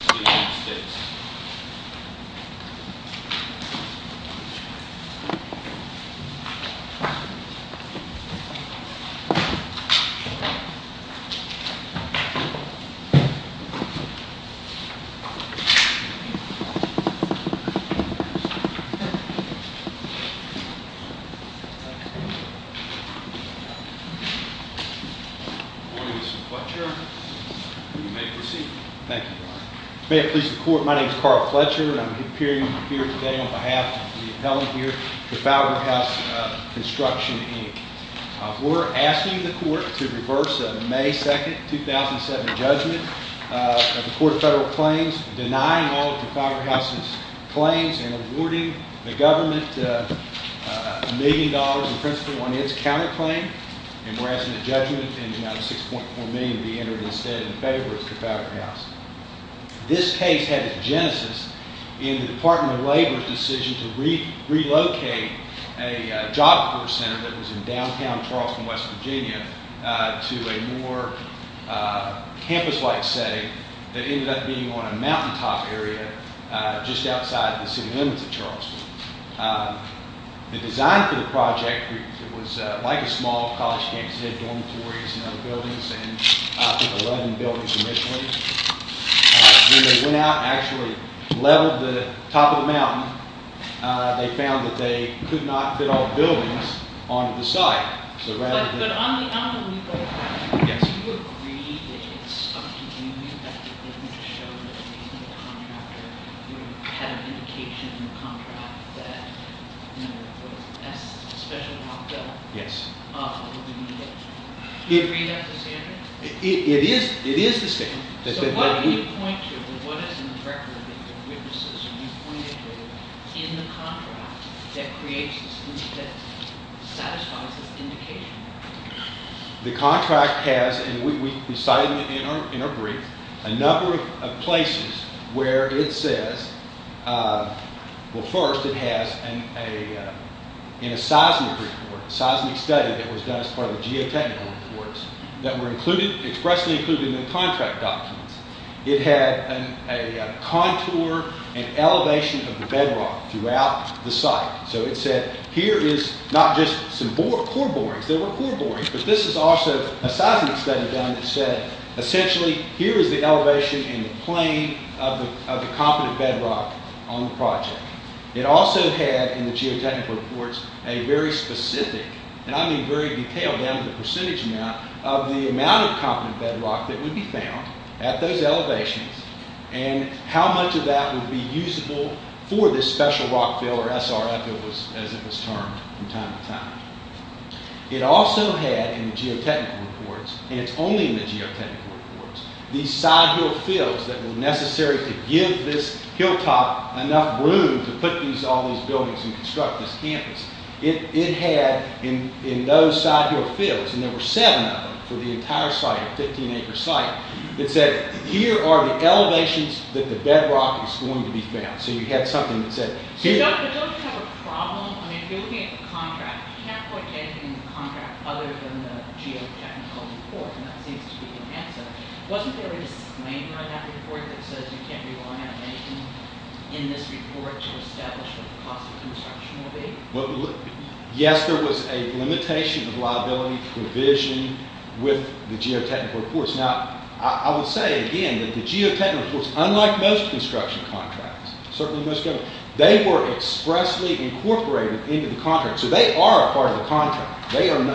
Good morning, Mr. Clutcher. You may proceed. Thank you. May it please the court, my name is Carl Clutcher and I'm appearing here today on behalf of the appellant here, Trafalgar House Construction, Inc. We're asking the court to reverse a May 2, 2007 judgment of the court's federal claims, denying all of Trafalgar House's claims and awarding the government a million dollars in principal on its counterclaim. And we're asking that judgment and the amount of $6.4 million be entered instead in favor of Trafalgar House. This case had its genesis in the Department of Labor's decision to relocate a Job Corps center that was in downtown Charleston, West Virginia, to a more campus-like setting that ended up being on a mountaintop area just outside the city limits of Charleston. The design for the project was like a small college campus. It had dormitories and other buildings and I think 11 buildings initially. When they went out and actually leveled the top of the mountain, they found that they could not fit all the buildings onto the site. But on the legal side, do you agree that it's up to you? Do you have anything to show that even the contractor had an indication in the contract that, you know, that's a special amount built? Yes. Do you agree with that, Mr. Sanders? It is the same. So what do you point to, or what is in the record that your witnesses or you pointed to in the contract that creates this, that satisfies this indication? It had a contour and elevation of the bedrock throughout the site. So it said, here is not just some core borings, there were core borings, but this is also a seismic study done that said, essentially, here is the elevation and the plane of the competent bedrock on the project. It also had, in the geotechnical reports, a very specific, and I mean very detailed, down to the percentage amount, of the amount of competent bedrock that would be found at those elevations and how much of that would be usable for this special rock fill, or SRF as it was termed from time to time. It also had, in the geotechnical reports, and it's only in the geotechnical reports, these side hill fills that were necessary to give this hilltop enough room to put all these buildings and construct this campus. It had, in those side hill fills, and there were seven of them for the entire site, a 15 acre site, it said, here are the elevations that the bedrock is going to be found. So you had something that said, here are the elevations that the bedrock is going to be found. If you're looking at the contract, you can't put anything in the contract other than the geotechnical report, and that seems to be the answer. Wasn't there a disclaimer in that report that says you can't rely on anything in this report to establish what the cost of construction will be? Yes, there was a limitation of liability provision with the geotechnical reports. Now, I would say, again, that the geotechnical reports, unlike most construction contracts, they were expressly incorporated into the contract. So they are a part of the contract.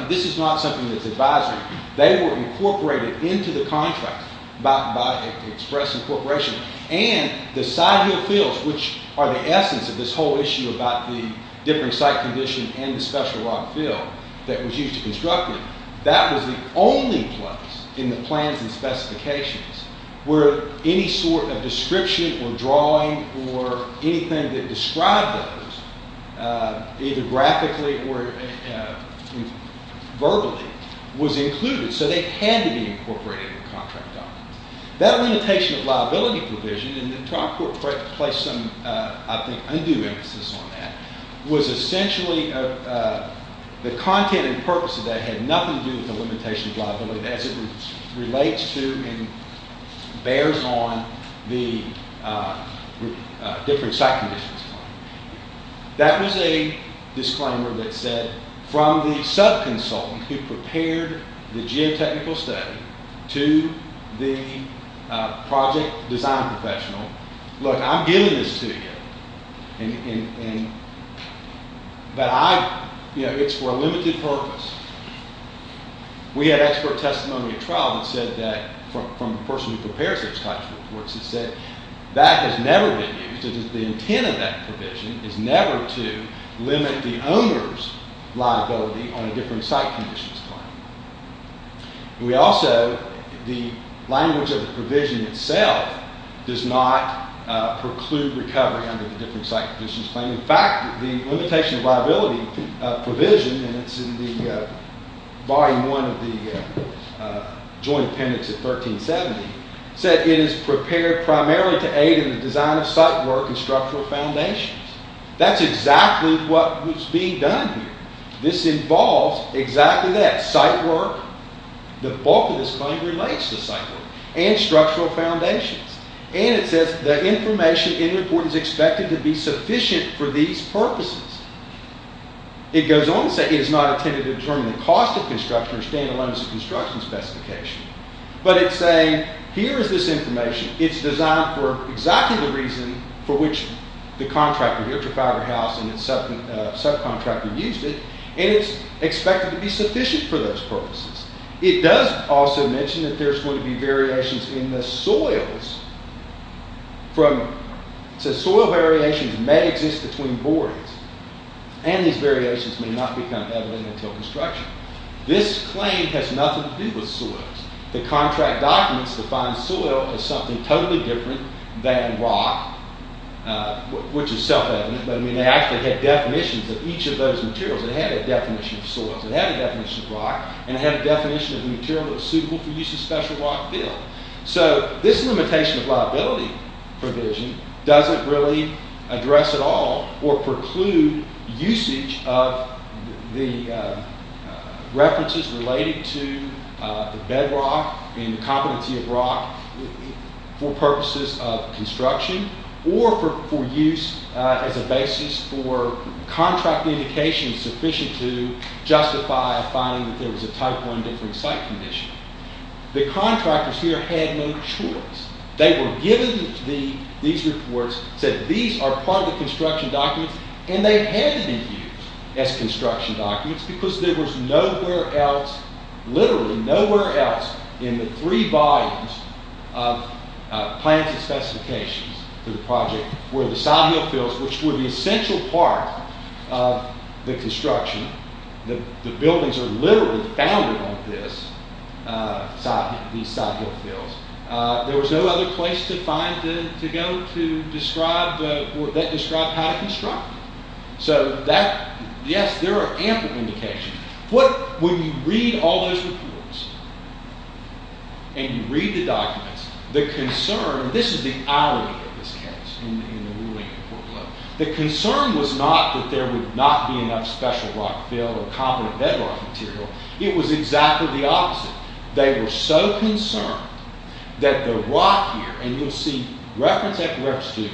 This is not something that's advisory. They were incorporated into the contract by express incorporation, and the side hill fills, which are the essence of this whole issue about the different site condition and the special rock fill that was used to construct it, that was the only place in the plans and specifications where any sort of description or drawing or anything that described those, either graphically or verbally, was included. So they had to be incorporated in the contract documents. That limitation of liability provision, and the trial court placed some, I think, undue emphasis on that, was essentially the content and purpose of that had nothing to do with the limitation of liability as it relates to and bears on the different site conditions. That was a disclaimer that said, from the sub-consultant who prepared the geotechnical study to the project design professional, look, I'm giving this to you, but it's for a limited purpose. We had expert testimony at trial that said that, from the person who prepares those types of reports, that said, that has never been used. The intent of that provision is never to limit the owner's liability on a different site conditions claim. We also, the language of the provision itself does not preclude recovery under the different site conditions claim. In fact, the limitation of liability provision, and it's in the volume one of the joint appendix of 1370, said it is prepared primarily to aid in the design of site work and structural foundations. That's exactly what was being done here. This involves exactly that, site work, the bulk of this claim relates to site work, and structural foundations. And it says, the information in the report is expected to be sufficient for these purposes. It goes on to say, it is not intended to determine the cost of construction or stand-alone construction specification. But it's saying, here is this information, it's designed for exactly the reason for which the contractor, Utrafiber House, and its subcontractor used it, and it's expected to be sufficient for those purposes. It does also mention that there's going to be variations in the soils. It says, soil variations may exist between boardings, and these variations may not become evident until construction. This claim has nothing to do with soils. The contract documents define soil as something totally different than rock, which is self-evident. They actually had definitions of each of those materials. It had a definition of soils, it had a definition of rock, and it had a definition of the material that was suitable for use in a special rock field. So, this limitation of liability provision doesn't really address at all, or preclude, usage of the references related to bedrock and competency of rock for purposes of construction, or for use as a basis for contract indications sufficient to justify a finding that there was a type one different site condition. The contractors here had no choice. They were given these reports, said these are part of the construction documents, and they had to be used as construction documents, because there was nowhere else, literally nowhere else in the three volumes of plans and specifications for the project where the side hill fields, which were the essential part of the construction, the buildings are literally founded on these side hill fields, there was no other place to go to describe how to construct. So, yes, there are ample indications. When you read all those reports, and you read the documents, the concern, and this is the irony of this case, the concern was not that there would not be enough special rock field or competent bedrock material. It was exactly the opposite. They were so concerned that the rock here, and you'll see reference after reference to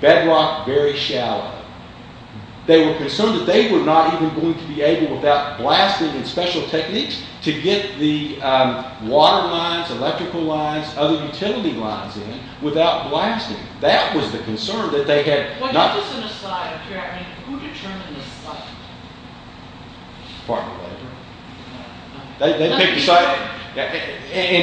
bedrock, very shallow. They were concerned that they were not even going to be able, without blasting and special techniques, to get the water lines, electrical lines, other utility lines in without blasting. That was the concern that they had. Just on the slide up here, I mean, who determined the site? The park manager. And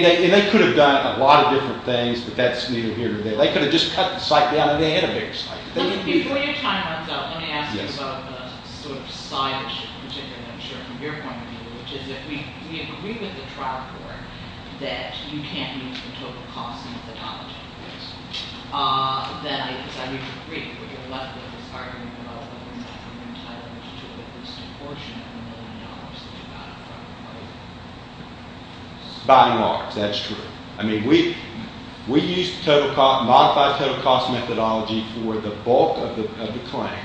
they could have done a lot of different things, but that's neither here nor there. They could have just cut the site down, and they had a bigger site. Before your time runs out, let me ask you about a sort of side issue, particularly, I'm sure, from your point of view, which is if we agree with the trial court that you can't use the total cost methodology, then I guess I would agree with your leftist argument about whether or not you can entitle it to at least a portion of the million dollars that you got out of it. By and large, that's true. I mean, we use the modified total cost methodology for the bulk of the claim,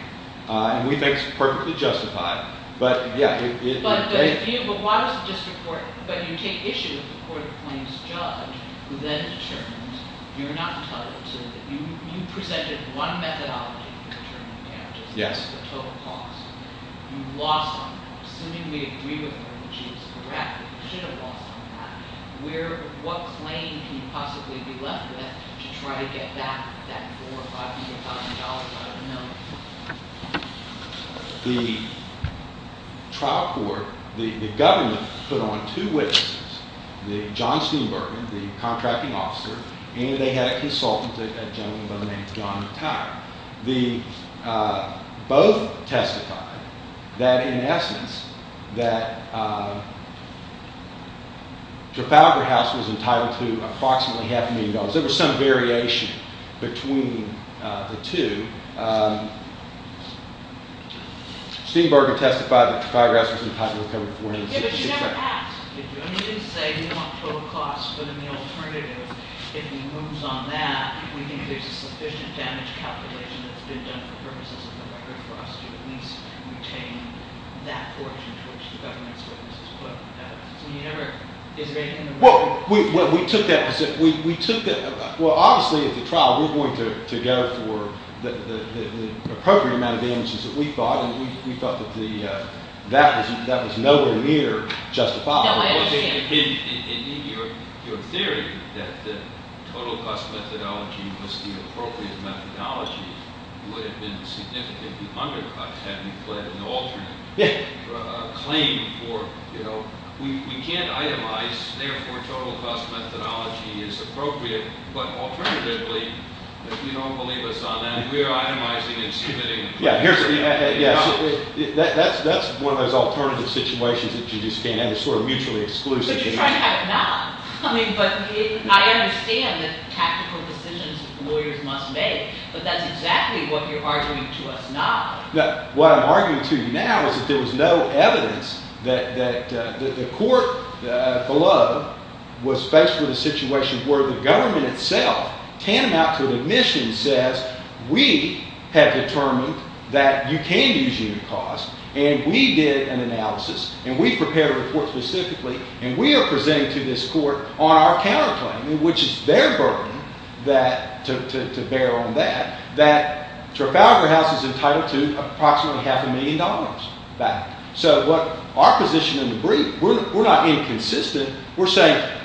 and we think it's perfectly justified. But, yeah. But why was it just reported? But you take issue with the court of claims judge, who then determines you're not entitled to it. You presented one methodology for determining damages, the total cost. You lost on that. Assuming we agree with her and she was correct, you should have lost on that. What claim can you possibly be left with to try to get back that $450,000 out of the note? The trial court, the government, put on two witnesses, John Steenbergen, the contracting officer, and they had a consultant, a gentleman by the name of John Tire. Both testified that, in essence, that Trafalgar House was entitled to approximately half a million dollars. There was some variation between the two. Steenbergen testified that Trafalgar House was entitled to $450,000. Yeah, but you never asked. You didn't say you want total cost, but in the alternative, if he moves on that, we think there's a sufficient damage calculation that's been done for purposes of the record for us to at least retain that portion to which the government's witnesses put evidence. I mean, you never – is there anything in the record? Well, we took that – well, obviously, at the trial, we're going to go for the appropriate amount of damages that we thought, and we thought that that was nowhere near justified. No, I understand. In your theory that the total cost methodology was the appropriate methodology would have been significantly undercut had we fled an alternate claim for, you know, we can't itemize, therefore, total cost methodology is appropriate, but alternatively, if you don't believe us on that, we are itemizing and submitting. Yeah, here's – yes, that's one of those alternative situations that you just can't have. It's sort of mutually exclusive. But you're trying to have it not. I mean, but I understand the tactical decisions lawyers must make, but that's exactly what you're arguing to us now. What I'm arguing to you now is that there was no evidence that the court below was faced with a situation where the government itself, tantamount to an admission, says we have determined that you can use unit cost, and we did an analysis, and we've prepared a report specifically, and we are presenting to this court on our counterclaim, which is their burden to bear on that, that Trafalgar House is entitled to approximately half a million dollars back. So our position in the brief, we're not inconsistent. We're saying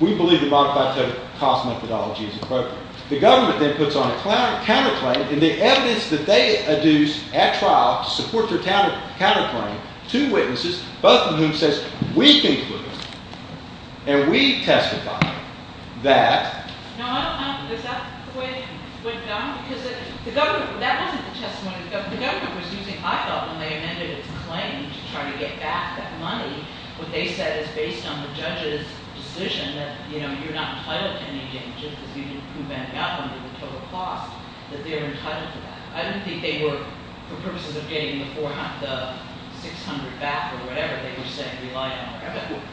we believe the modified total cost methodology is appropriate. The government then puts on a counterclaim, and the evidence that they adduce at trial to support their counterclaim to witnesses, both of whom says we conclude and we testify that – No, I don't know. Is that the way it went down? Because the government – that wasn't the testimony. The government was using – I thought when they amended its claim to try to get back that money, what they said is based on the judge's decision that, you know, you're not entitled to any changes because you didn't prove anything out there under the total cost, that they were entitled to that. I don't think they were, for purposes of getting the 600 back or whatever, they were saying rely on our evidence.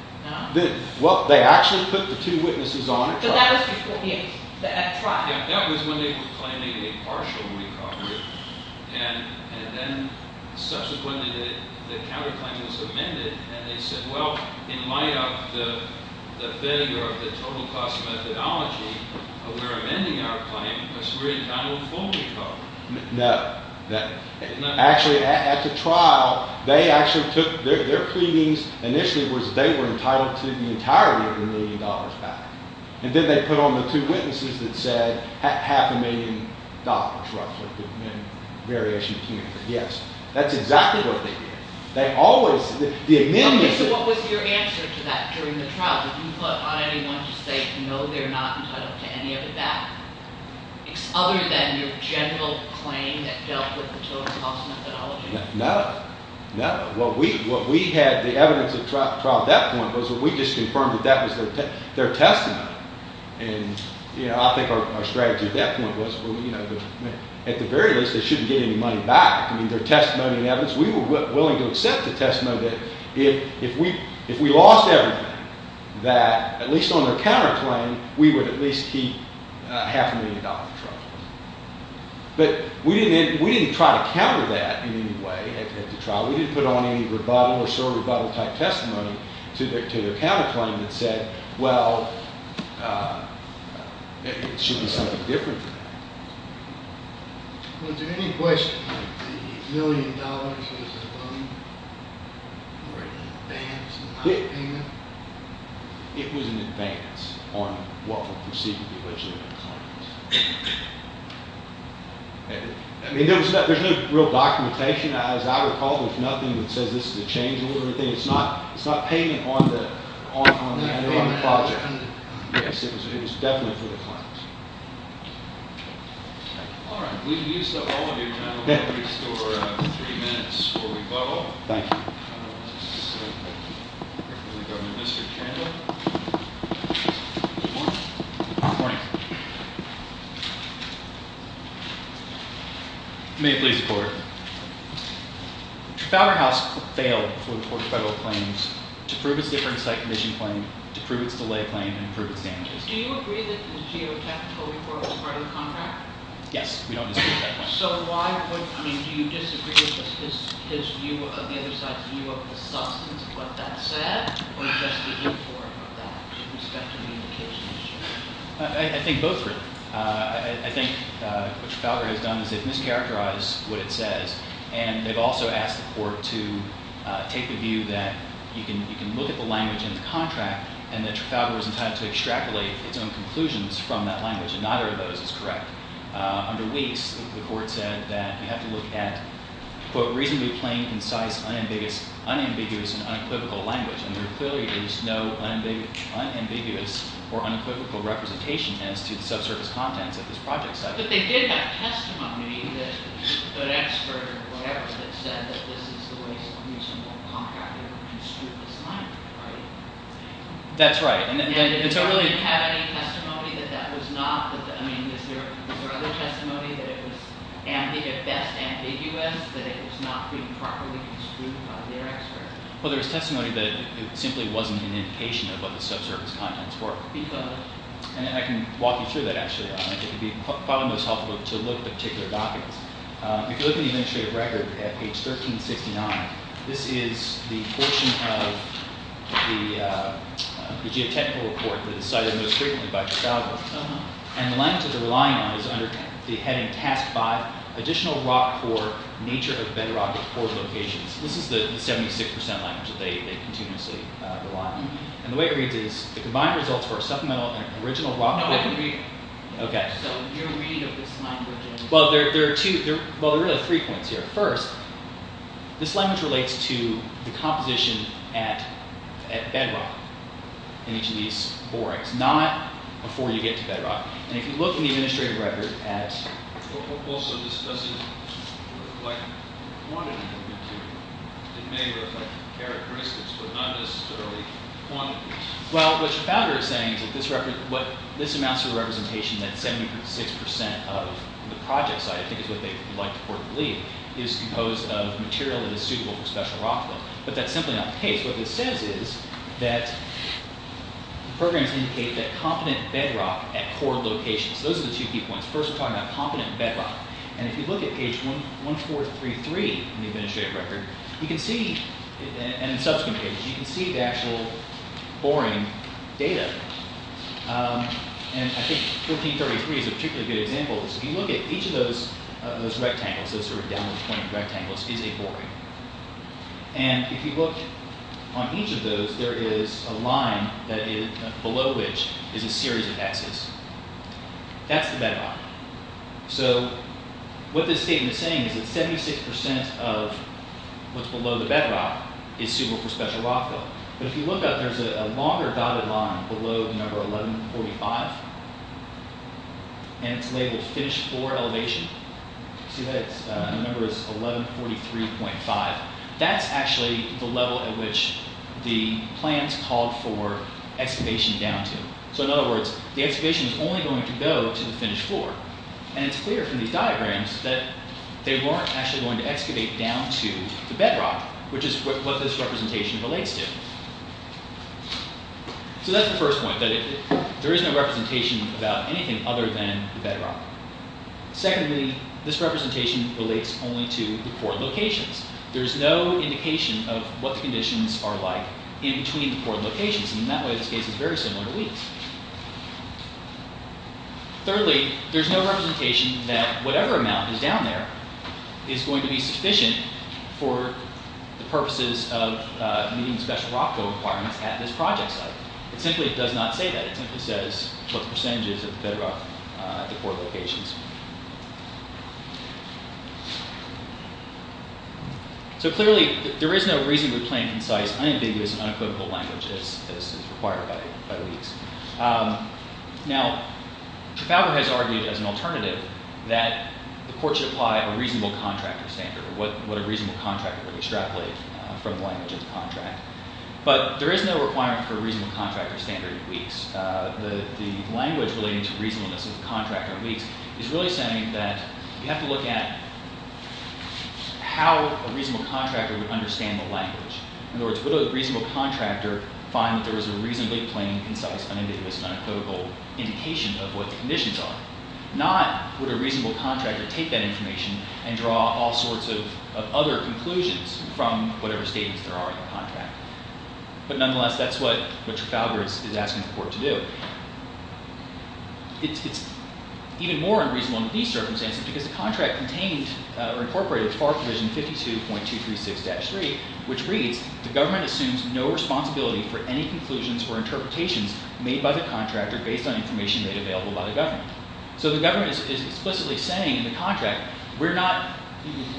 Well, they actually put the two witnesses on it. But that was before the – at trial. Yeah, that was when they were claiming a partial recovery, and then subsequently the counterclaim was amended, and they said, well, in light of the failure of the total cost methodology, we're amending our claim because we're entitled fully to it. No. Actually, at the trial, they actually took – their pleadings initially was they were entitled to the entirety of the million dollars back, and then they put on the two witnesses that said half a million dollars, roughly, and variation came in. Yes, that's exactly what they did. They always – the amendment – Okay, so what was your answer to that during the trial? Did you put on anyone to say no, they're not entitled to any of that, other than your general claim that dealt with the total cost methodology? No, no. What we had the evidence at trial at that point was we just confirmed that that was their testimony, and I think our strategy at that point was, at the very least, they shouldn't get any money back. I mean, their testimony and evidence, we were willing to accept the testimony that if we lost everything, that at least on their counterclaim, we would at least keep half a million dollars. But we didn't try to counter that in any way at the trial. We didn't put on any rebuttal or sort of rebuttal-type testimony to their counterclaim that said, well, it should be something different than that. Was there any question that the million dollars was a loan or an advance in my opinion? It was an advance on what were perceived to be legitimate claims. I mean, there's no real documentation. As I recall, there's nothing that says this is a change in order or anything. It's not payment on the project. Yes, it was definitely for the claims. All right. We've used up all of your time. We're going to restore three minutes for rebuttal. Thank you. Governor of the District of Canada. Good morning. Good morning. May it please the Court. The Fowler House failed before the Court of Federal Claims to prove its different site condition claim, to prove its delay claim, and to prove its damages. Do you agree that the geotechnical report was part of the contract? Yes, we don't disagree with that. All right. So why would – I mean, do you disagree with his view of the other side's view of the substance of what that said or just the inform of that with respect to the indication issue? I think both really. I think what Trafalgar has done is they've mischaracterized what it says, and they've also asked the Court to take the view that you can look at the language in the contract and that Trafalgar was entitled to extrapolate its own conclusions from that language, and neither of those is correct. Under Weeks, the Court said that you have to look at, quote, reasonably plain, concise, unambiguous, and unequivocal language, and there clearly is no unambiguous or unequivocal representation as to the subsurface contents of this project site. But they did have testimony that an expert or whatever that said that this is the waste of a reasonable contract that would construe the site, right? That's right. And did the Court have any testimony that that was not – I mean, is there other testimony that it was at best ambiguous, that it was not being properly construed by their experts? Well, there was testimony that it simply wasn't an indication of what the subsurface contents were. And I can walk you through that, actually. I think it would be probably most helpful to look at particular documents. If you look at the administrative record at page 1369, this is the portion of the geotechnical report that is cited most frequently by Chisalgo. And the language that they're relying on is under the heading Task 5, Additional Rock Core Nature of Bedrock at Core Locations. This is the 76% language that they continuously rely on. And the way it reads is, the combined results for supplemental and original rock – No, I can read it. Okay. So your read of this language – Well, there are two – well, there are really three points here. First, this language relates to the composition at bedrock in each of these borehives. Not before you get to bedrock. And if you look in the administrative record at – Also discussing like quantity of material. It may reflect characteristics, but not necessarily quantities. Well, what your founder is saying is that this amounts to a representation that 76% of the project site, I think is what they would like to report and believe, is composed of material that is suitable for special rock flow. But that's simply not the case. What this says is that programs indicate that competent bedrock at core locations. Those are the two key points. First, we're talking about competent bedrock. And if you look at page 1433 in the administrative record, you can see – and in subsequent pages, you can see the actual boring data. And I think 1433 is a particularly good example. If you look at each of those rectangles, those sort of downward pointing rectangles, is a boring. And if you look on each of those, there is a line below which is a series of Xs. That's the bedrock. So what this statement is saying is that 76% of what's below the bedrock is suitable for special rock flow. But if you look up, there's a longer dotted line below the number 1145. And it's labeled finish floor elevation. See that? The number is 1143.5. That's actually the level at which the plans called for excavation down to. So in other words, the excavation is only going to go to the finish floor. And it's clear from these diagrams that they weren't actually going to excavate down to the bedrock, which is what this representation relates to. So that's the first point, that there is no representation about anything other than the bedrock. Secondly, this representation relates only to the poured locations. There's no indication of what the conditions are like in between the poured locations. And in that way, this case is very similar to weeds. Thirdly, there's no representation that whatever amount is down there is going to be sufficient for the purposes of meeting special rock flow requirements at this project site. It simply does not say that. It simply says what the percentages of bedrock at the poured locations. So clearly, there is no reasonably plain, concise, unambiguous, and unequivocal language as required by the weeds. Now, Trafalgar has argued as an alternative that the court should apply a reasonable contractor standard, or what a reasonable contractor would extrapolate from the language of the contract. But there is no requirement for a reasonable contractor standard in weeds. The language relating to reasonableness of the contractor in weeds is really saying that you have to look at how a reasonable contractor would understand the language. In other words, would a reasonable contractor find that there was a reasonably plain, concise, unambiguous, and unequivocal indication of what the conditions are? Not would a reasonable contractor take that information and draw all sorts of other conclusions from whatever statements there are in the contract. But nonetheless, that's what Trafalgar is asking the court to do. It's even more unreasonable in these circumstances because the contract contained or incorporated Part Provision 52.236-3, which reads, the government assumes no responsibility for any conclusions or interpretations made by the contractor based on information made available by the government. So the government is explicitly saying in the contract, we're not,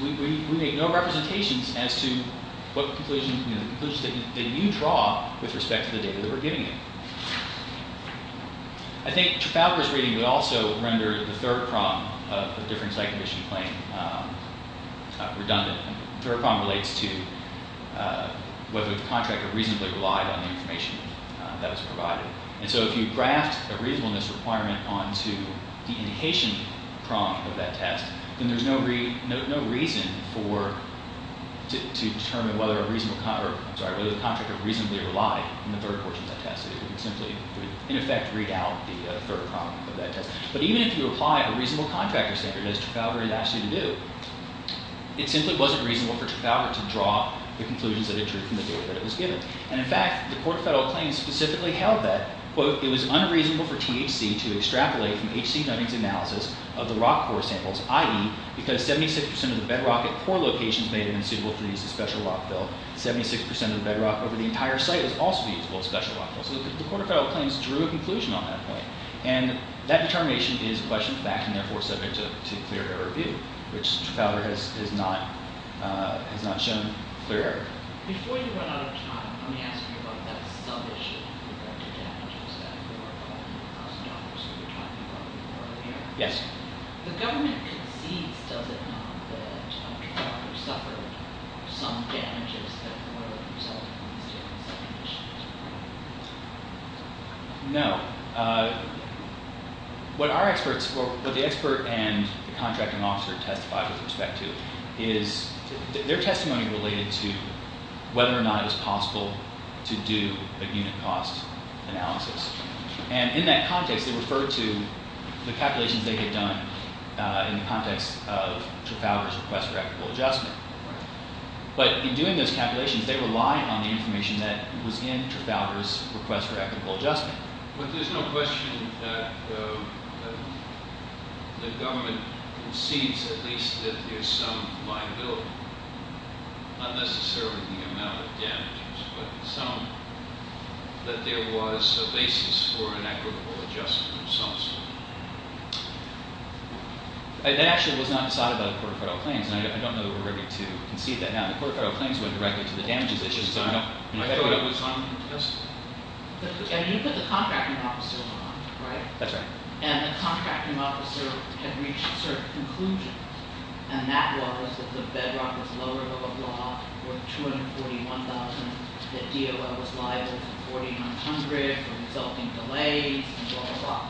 we make no representations as to what conclusions, you know, the conclusions that you draw with respect to the data that we're giving you. I think Trafalgar's reading would also render the third problem of the different site condition claim. Redundant. Third problem relates to whether the contractor reasonably relied on the information that was provided. And so if you graft a reasonableness requirement onto the indication problem of that test, then there's no reason for, to determine whether a reasonable, I'm sorry, whether the contractor reasonably relied on the third portion of that test. It would simply, in effect, read out the third problem of that test. But even if you apply a reasonable contractor standard, as Trafalgar has asked you to do, it simply wasn't reasonable for Trafalgar to draw the conclusions that it drew from the data that it was given. And in fact, the Court of Federal Claims specifically held that, quote, it was unreasonable for THC to extrapolate from H.C. Dunning's analysis of the rock core samples, i.e., because 76% of the bedrock at poor locations may have been suitable for the use of special rock fill. 76% of the bedrock over the entire site was also usable as special rock fill. So the Court of Federal Claims drew a conclusion on that point. And that determination is, in fact, and therefore subject to clear error review, which Trafalgar has not shown clear error. Before you run out of time, let me ask you about that sub-issue with regard to damages that were $500,000 that we were talking about before earlier. Yes. The government concedes, does it not, that Trafalgar suffered some damages that were resulting in these damages? No. What our experts, what the expert and the contracting officer testified with respect to, is their testimony related to whether or not it was possible to do a unit cost analysis. And in that context, they referred to the calculations they had done in the context of Trafalgar's request for equitable adjustment. But in doing those calculations, they relied on the information that was in Trafalgar's request for equitable adjustment. But there's no question that the government concedes at least that there's some liability, not necessarily the amount of damages, but some, that there was a basis for an equitable adjustment of some sort. That actually was not decided by the Court of Federal Claims, and I don't know that we're ready to concede that now. The Court of Federal Claims went directly to the damages issue, so I don't know. I thought it was on the test. And you put the contracting officer on, right? That's right. And the contracting officer had reached a certain conclusion, and that was that the bedrock was lower, blah, blah, blah, or $241,000 that DOI was liable for $4,100 for resulting delays, and blah, blah, blah.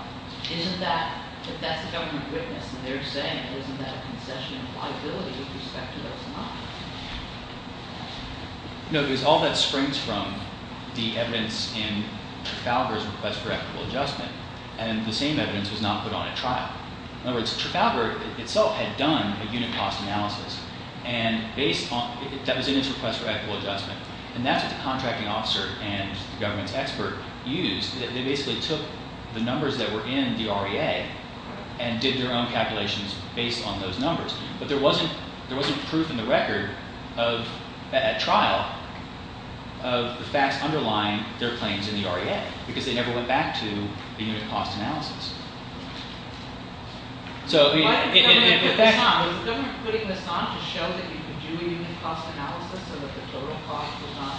Isn't that, if that's the government witness and they're saying, isn't that a concession of liability with respect to those amounts? No, because all that springs from the evidence in Trafalgar's request for equitable adjustment. And the same evidence was not put on at trial. In other words, Trafalgar itself had done a unit cost analysis. And based on – that was in its request for equitable adjustment. And that's what the contracting officer and the government's expert used. They basically took the numbers that were in the REA and did their own calculations based on those numbers. But there wasn't proof in the record of – at trial of the facts underlying their claims in the REA because they never went back to the unit cost analysis. So – Why didn't the government put this on? Was the government putting this on to show that you could do a unit cost analysis so that the total cost was not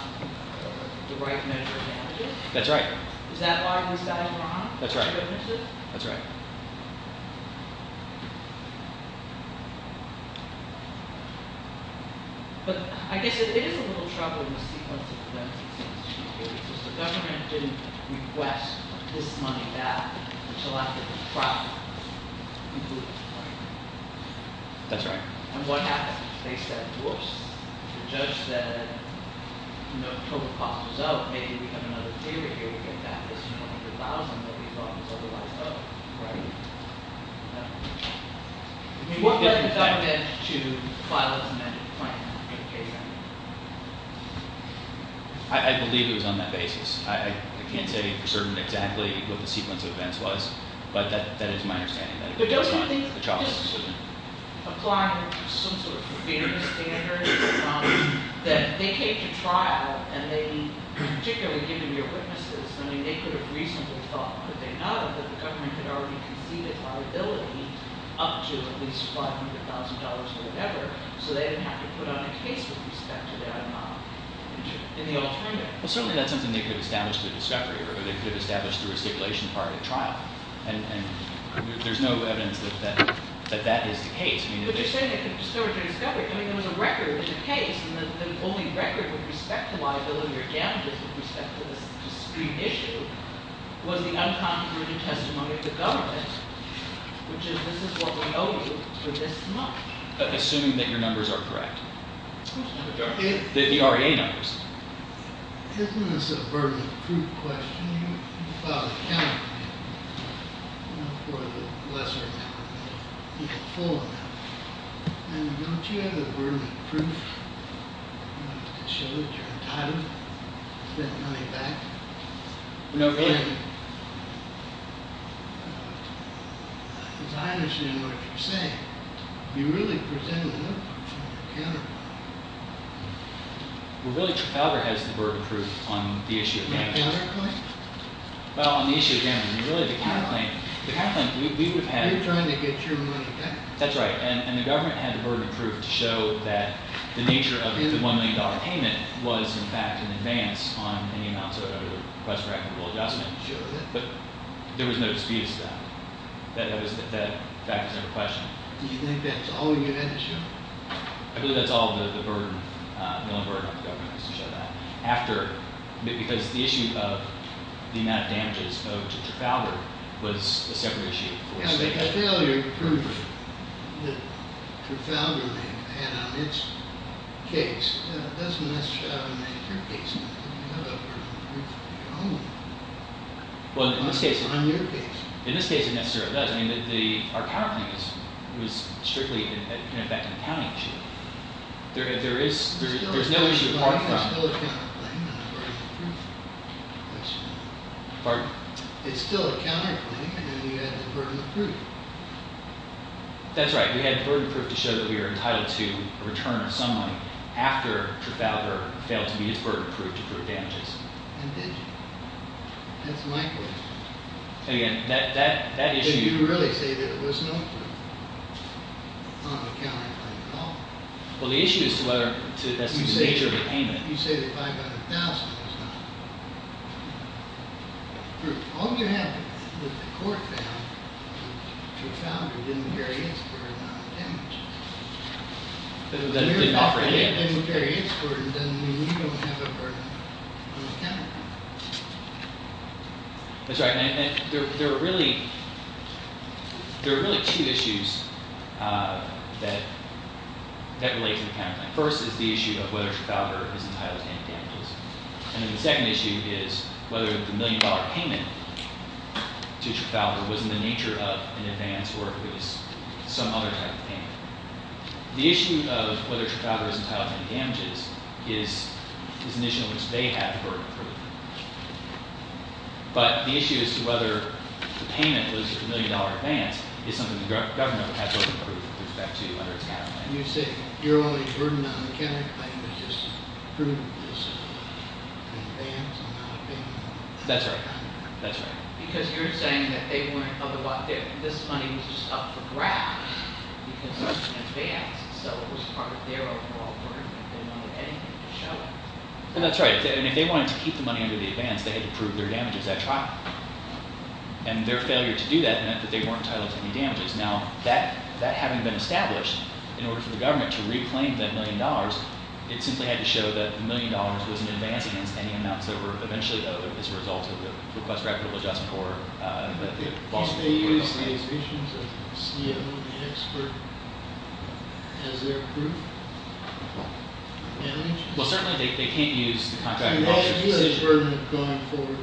the right measure of damages? That's right. Is that why this battle went on? That's right. That's right. That's right. Right? I believe it was on that basis. I can't say for certain exactly what the sequence of events was. But that is my understanding. But don't you think this should apply to some sort of fairness standard? That they came to trial and they – particularly given your witnesses, I mean, they could have reasonably thought – could they know that the government had already conceded liability up to at least $500,000 or whatever so they didn't have to put on a case with respect to that amount in the alternative? Well, certainly that's something they could have established through discovery or they could have established through a stipulation prior to trial. And there's no evidence that that is the case. But you're saying they could have discovered it through discovery. I mean, there was a record in the case. And the only record with respect to liability or damages with respect to this discrete issue was the unconfirmed written testimony of the government, which is this is what we owe you for this much. Assuming that your numbers are correct. Of course. The REA numbers. Isn't this a burden of proof question? Well, you filed a counterclaim for the lesser amount of money. You got full amount. And don't you have a burden of proof to show that you're entitled to that money back? No, I don't. Because I understand what you're saying. You really presented an uproar in your counterclaim. Well, really your father has the burden of proof on the issue of damages. Counterclaim? Well, on the issue of damages, really the counterclaim. You're trying to get your money back. That's right. And the government had the burden of proof to show that the nature of the $1 million payment was, in fact, in advance on any amount to request for equitable adjustment. But there was no dispute about that. That fact was never questioned. Do you think that's all you had to show? I believe that's all the burden, the only burden on the government was to show that. Because the issue of the amount of damages owed to Trafalgar was a separate issue. Yeah, but the failure proof that Trafalgar had on its case doesn't necessarily have a major case on it. You have a burden of proof on your case. In this case, it necessarily does. I mean, our counterclaim was strictly, in effect, an accounting issue. There's still a counterclaim and a burden of proof. Pardon? It's still a counterclaim, and you had the burden of proof. That's right. We had the burden of proof to show that we were entitled to a return of some money after Trafalgar failed to meet its burden of proof to prove damages. And did you? That's my question. And again, that issue— Did you really say that there was no proof on the counterclaim at all? Well, the issue is whether that's the nature of the payment. You say that $500,000 was not proof. All you have is that the court found that Trafalgar didn't carry its fair amount of damages. Didn't offer any damages. Didn't carry its burden, doesn't mean you don't have a burden on the counterclaim. That's right. And there are really two issues that relate to the counterclaim. First is the issue of whether Trafalgar is entitled to any damages. And then the second issue is whether the million-dollar payment to Trafalgar was in the nature of an advance or at least some other type of payment. The issue of whether Trafalgar is entitled to any damages is an issue in which they have the burden of proof. But the issue as to whether the payment was a million-dollar advance is something the government would have burden of proof with respect to whether it's a counterclaim. You say your only burden on the counterclaim is the burden of this advance amount of payment? That's right. That's right. Because you're saying that this money was just up for grabs because it's an advance. So it was part of their overall burden. They wanted anything to show it. And that's right. And if they wanted to keep the money under the advance, they had to prove their damages at trial. And their failure to do that meant that they weren't entitled to any damages. Now, that having been established, in order for the government to reclaim that million dollars, it simply had to show that the million dollars wasn't an advance against any amounts that were eventually owed as a result of the request for equitable adjustment or the lawsuit. Did they use these issues of the CEO and the expert as their proof of damages? Well, certainly they can't use the contract. You had the burden of going for the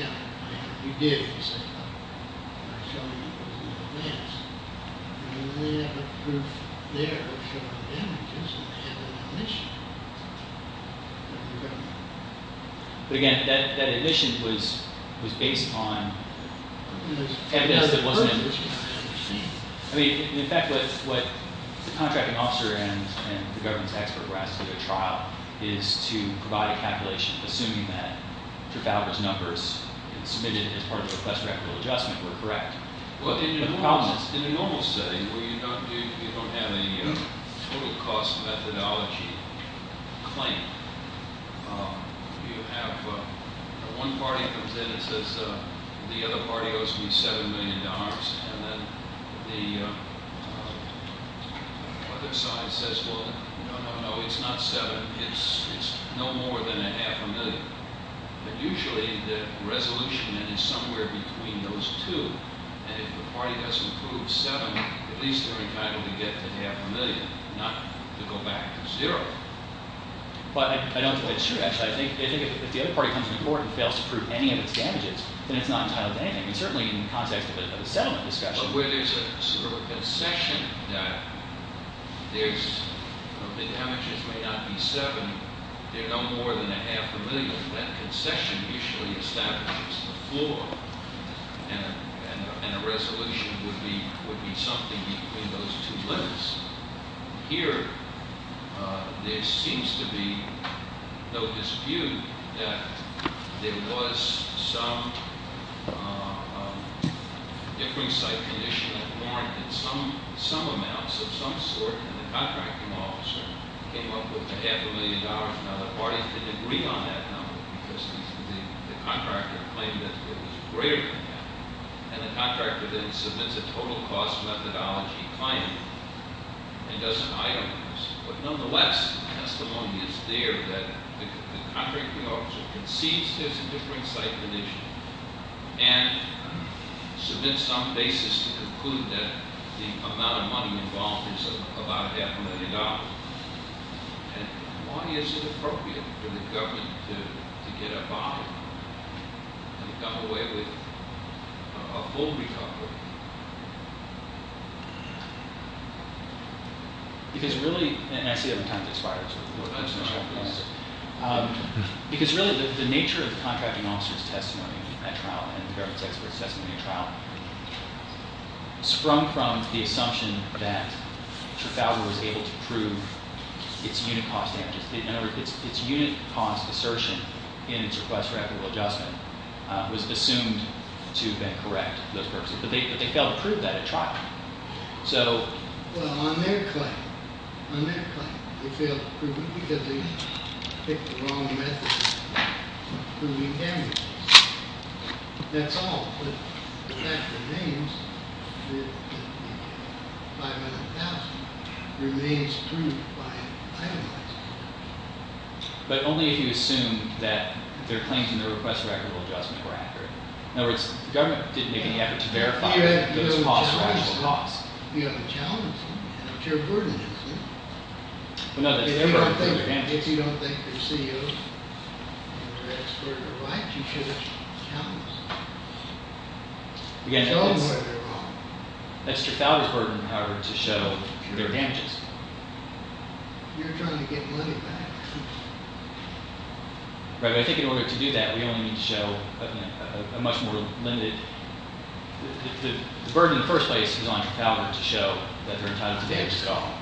counterclaim. You did. You said, I'll show you the advance. And they have a proof there of your damages and have an admission. But again, that admission was based on evidence that wasn't in it. I mean, in fact, what the contracting officer and the government's expert were asked to do at trial is to provide a calculation, assuming that Trafalgar's numbers submitted as part of the request for equitable adjustment were correct. Well, in a normal setting where you don't have a total cost methodology claim, you have one party comes in and says the other party owes me $7 million. And then the other side says, well, no, no, no, it's not 7. It's no more than a half a million. But usually the resolution is somewhere between those two. And if the party doesn't prove 7, at least they're entitled to get to half a million, not to go back to zero. But I don't think it's true, actually. I think if the other party comes to court and fails to prove any of its damages, then it's not entitled to anything. And certainly in the context of a settlement discussion. So where there's a sort of concession that the damages may not be 7, they're no more than a half a million. That concession usually establishes the floor, and a resolution would be something between those two limits. Here, there seems to be no dispute that there was some different site condition that warranted some amounts of some sort. And the contracting officer came up with a half a million dollars. Now, the parties didn't agree on that number because the contractor claimed that it was greater than that. And the contractor then submits a total cost methodology claim and doesn't hire a person. But nonetheless, testimony is there that the contracting officer concedes there's a different site condition. And submits some basis to conclude that the amount of money involved is about a half a million dollars. And why is it appropriate for the government to get a bond and come away with a full recovery? Because really, and I see other times it expires. Because really, the nature of the contracting officer's testimony at trial and the government's expert's testimony at trial sprung from the assumption that Trafalgar was able to prove its unit cost damages. In other words, its unit cost assertion in its request for equitable adjustment was assumed to have been correct for those purposes. But they failed to prove that at trial. So… Well, on their claim, on their claim, they failed to prove it because they picked the wrong method of proving damages. That's all. But the fact remains that $500,000 remains proved by itemizing it. But only if you assume that their claims in their request for equitable adjustment were accurate. In other words, the government didn't make any effort to verify that those costs were actual costs. You haven't challenged them. That's your burden, isn't it? If you don't think their CEO and their expert are right, you should have challenged them. Show them where they're wrong. That's Trafalgar's burden, however, to show their damages. You're trying to get money back. Right. But I think in order to do that, we only need to show a much more limited – the burden in the first place is on Trafalgar to show that they're entitled to damages at all.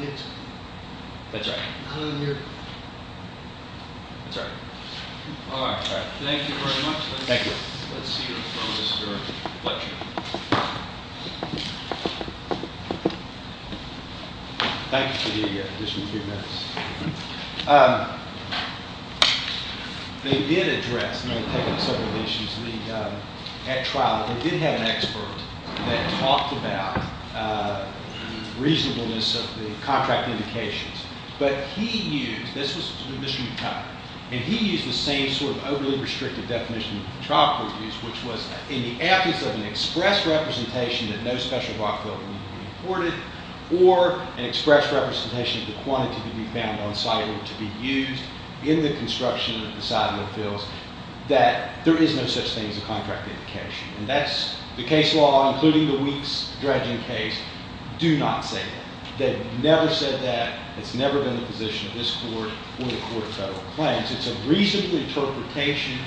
That's right. That's right. All right. All right. Thank you very much. Thank you. Let's see your focus for our lecture. Thank you. Thank you for the additional few minutes. They did address – they did take up several issues at trial. They did have an expert that talked about reasonableness of the contract indications. But he used – this was Mr. McConnell – and he used the same sort of overly restrictive definition that the trial court used, which was in the absence of an express representation that no special rock filter needed to be imported or an express representation of the quantity to be found on site or to be used in the construction of the side mill fields, that there is no such thing as a contract indication. And that's – the case law, including the Weeks dredging case, do not say that. They've never said that. It's never been the position of this court or the Court of Federal Claims. It's a reasonable interpretation,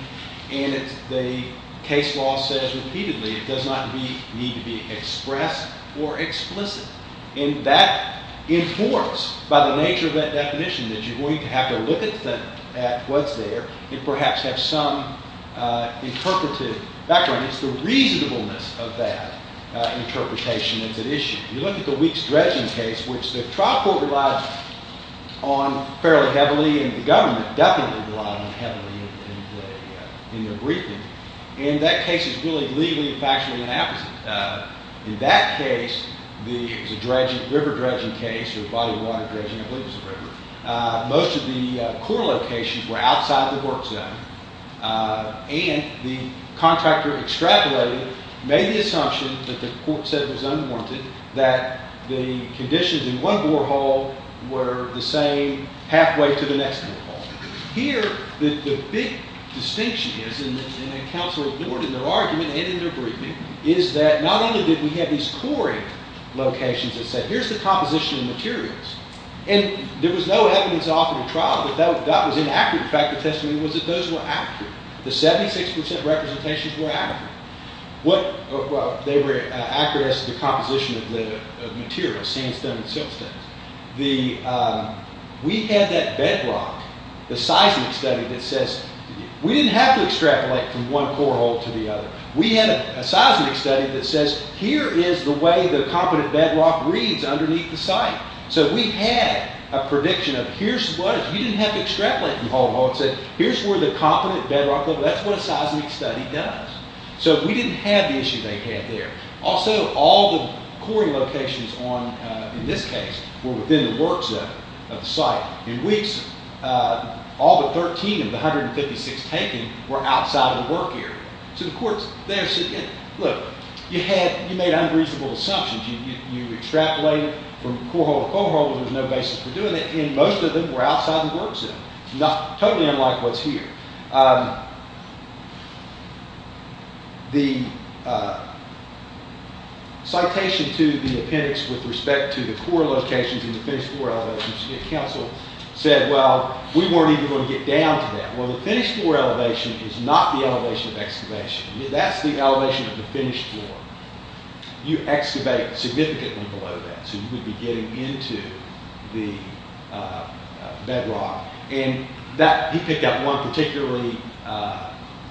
and the case law says repeatedly it does not need to be expressed or explicit. And that informs, by the nature of that definition, that you're going to have to look at what's there and perhaps have some interpretive background. It's the reasonableness of that interpretation that's at issue. You look at the Weeks dredging case, which the trial court relied on fairly heavily and the government definitely relied on heavily in their briefing, and that case is really legally and factually the opposite. In that case, it was a river dredging case or a body of water dredging. I believe it was a river. Most of the core locations were outside the work zone, and the contractor extrapolated, made the assumption that the court said it was unwarranted, that the conditions in one borehole were the same halfway to the next borehole. Here, the big distinction is, and the counsel ignored in their argument and in their briefing, is that not only did we have these quarry locations that said, here's the composition of materials, and there was no evidence off in the trial that that was inaccurate. The fact of the testimony was that those were accurate. The 76% representations were accurate. They were accurate as to the composition of the material, sandstone and siltstone. We had that bedrock, the seismic study that says, we didn't have to extrapolate from one borehole to the other. We had a seismic study that says, here is the way the competent bedrock reads underneath the site. So we had a prediction of, here's what, you didn't have to extrapolate from borehole. It said, here's where the competent bedrock, that's what a seismic study does. So we didn't have the issue they had there. Also, all the quarry locations on, in this case, were within the work zone of the site. In weeks, all but 13 of the 156 taken were outside of the work area. So the courts there said, look, you made unreasonable assumptions. You extrapolated from borehole to borehole. There was no basis for doing that. And most of them were outside the work zone, totally unlike what's here. The citation to the appendix with respect to the quarry locations and the finished floor elevations, the council said, well, we weren't even going to get down to that. Well, the finished floor elevation is not the elevation of excavation. That's the elevation of the finished floor. You excavate significantly below that. So you would be getting into the bedrock. And that, he picked up one particularly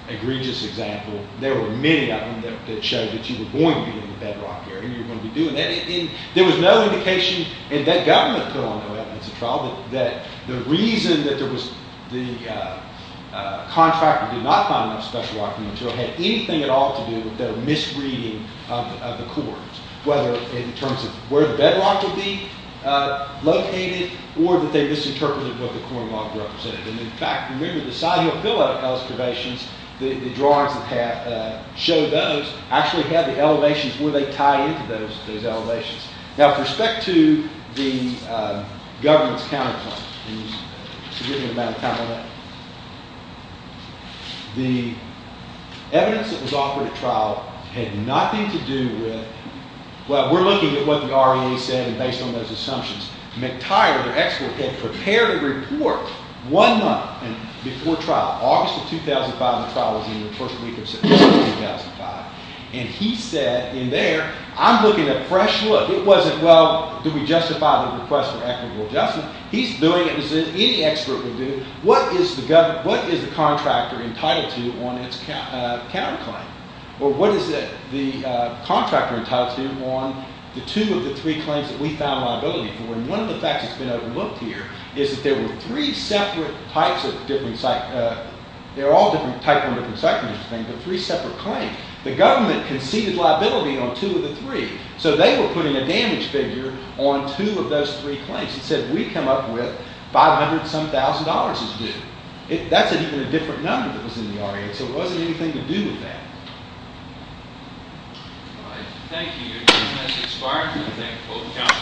egregious example. There were many of them that showed that you were going to be in the bedrock area. You were going to be doing that. And there was no indication, and that government put on no evidence of trial, that the reason that there was, the contractor did not find enough special rock material that had anything at all to do with their misreading of the quarry, whether in terms of where the bedrock would be located or that they misinterpreted what the quarry rock represented. And, in fact, remember, the side hill pillar excavations, the drawings that show those actually have the elevations where they tie into those elevations. Now, with respect to the government's counterclaim, forgive me about the time on that, the evidence that was offered at trial had nothing to do with, well, we're looking at what the REA said and based on those assumptions. McTire, their expert, had prepared a report one month before trial, August of 2005. The trial was in the first week of September 2005. And he said in there, I'm looking at fresh look. It wasn't, well, do we justify the request for equitable adjustment? He's doing it as any expert would do. What is the contractor entitled to on its counterclaim? Or what is the contractor entitled to on the two of the three claims that we found liability for? And one of the facts that's been overlooked here is that there were three separate types of different, they're all different types and different sections of the thing, but three separate claims. The government conceded liability on two of the three. So they were putting a damage figure on two of those three claims. It said we come up with 500-some thousand dollars' worth. That's a different number that was in the REA. So it wasn't anything to do with that. All right. Thank you. Your time has expired. Thank both of you.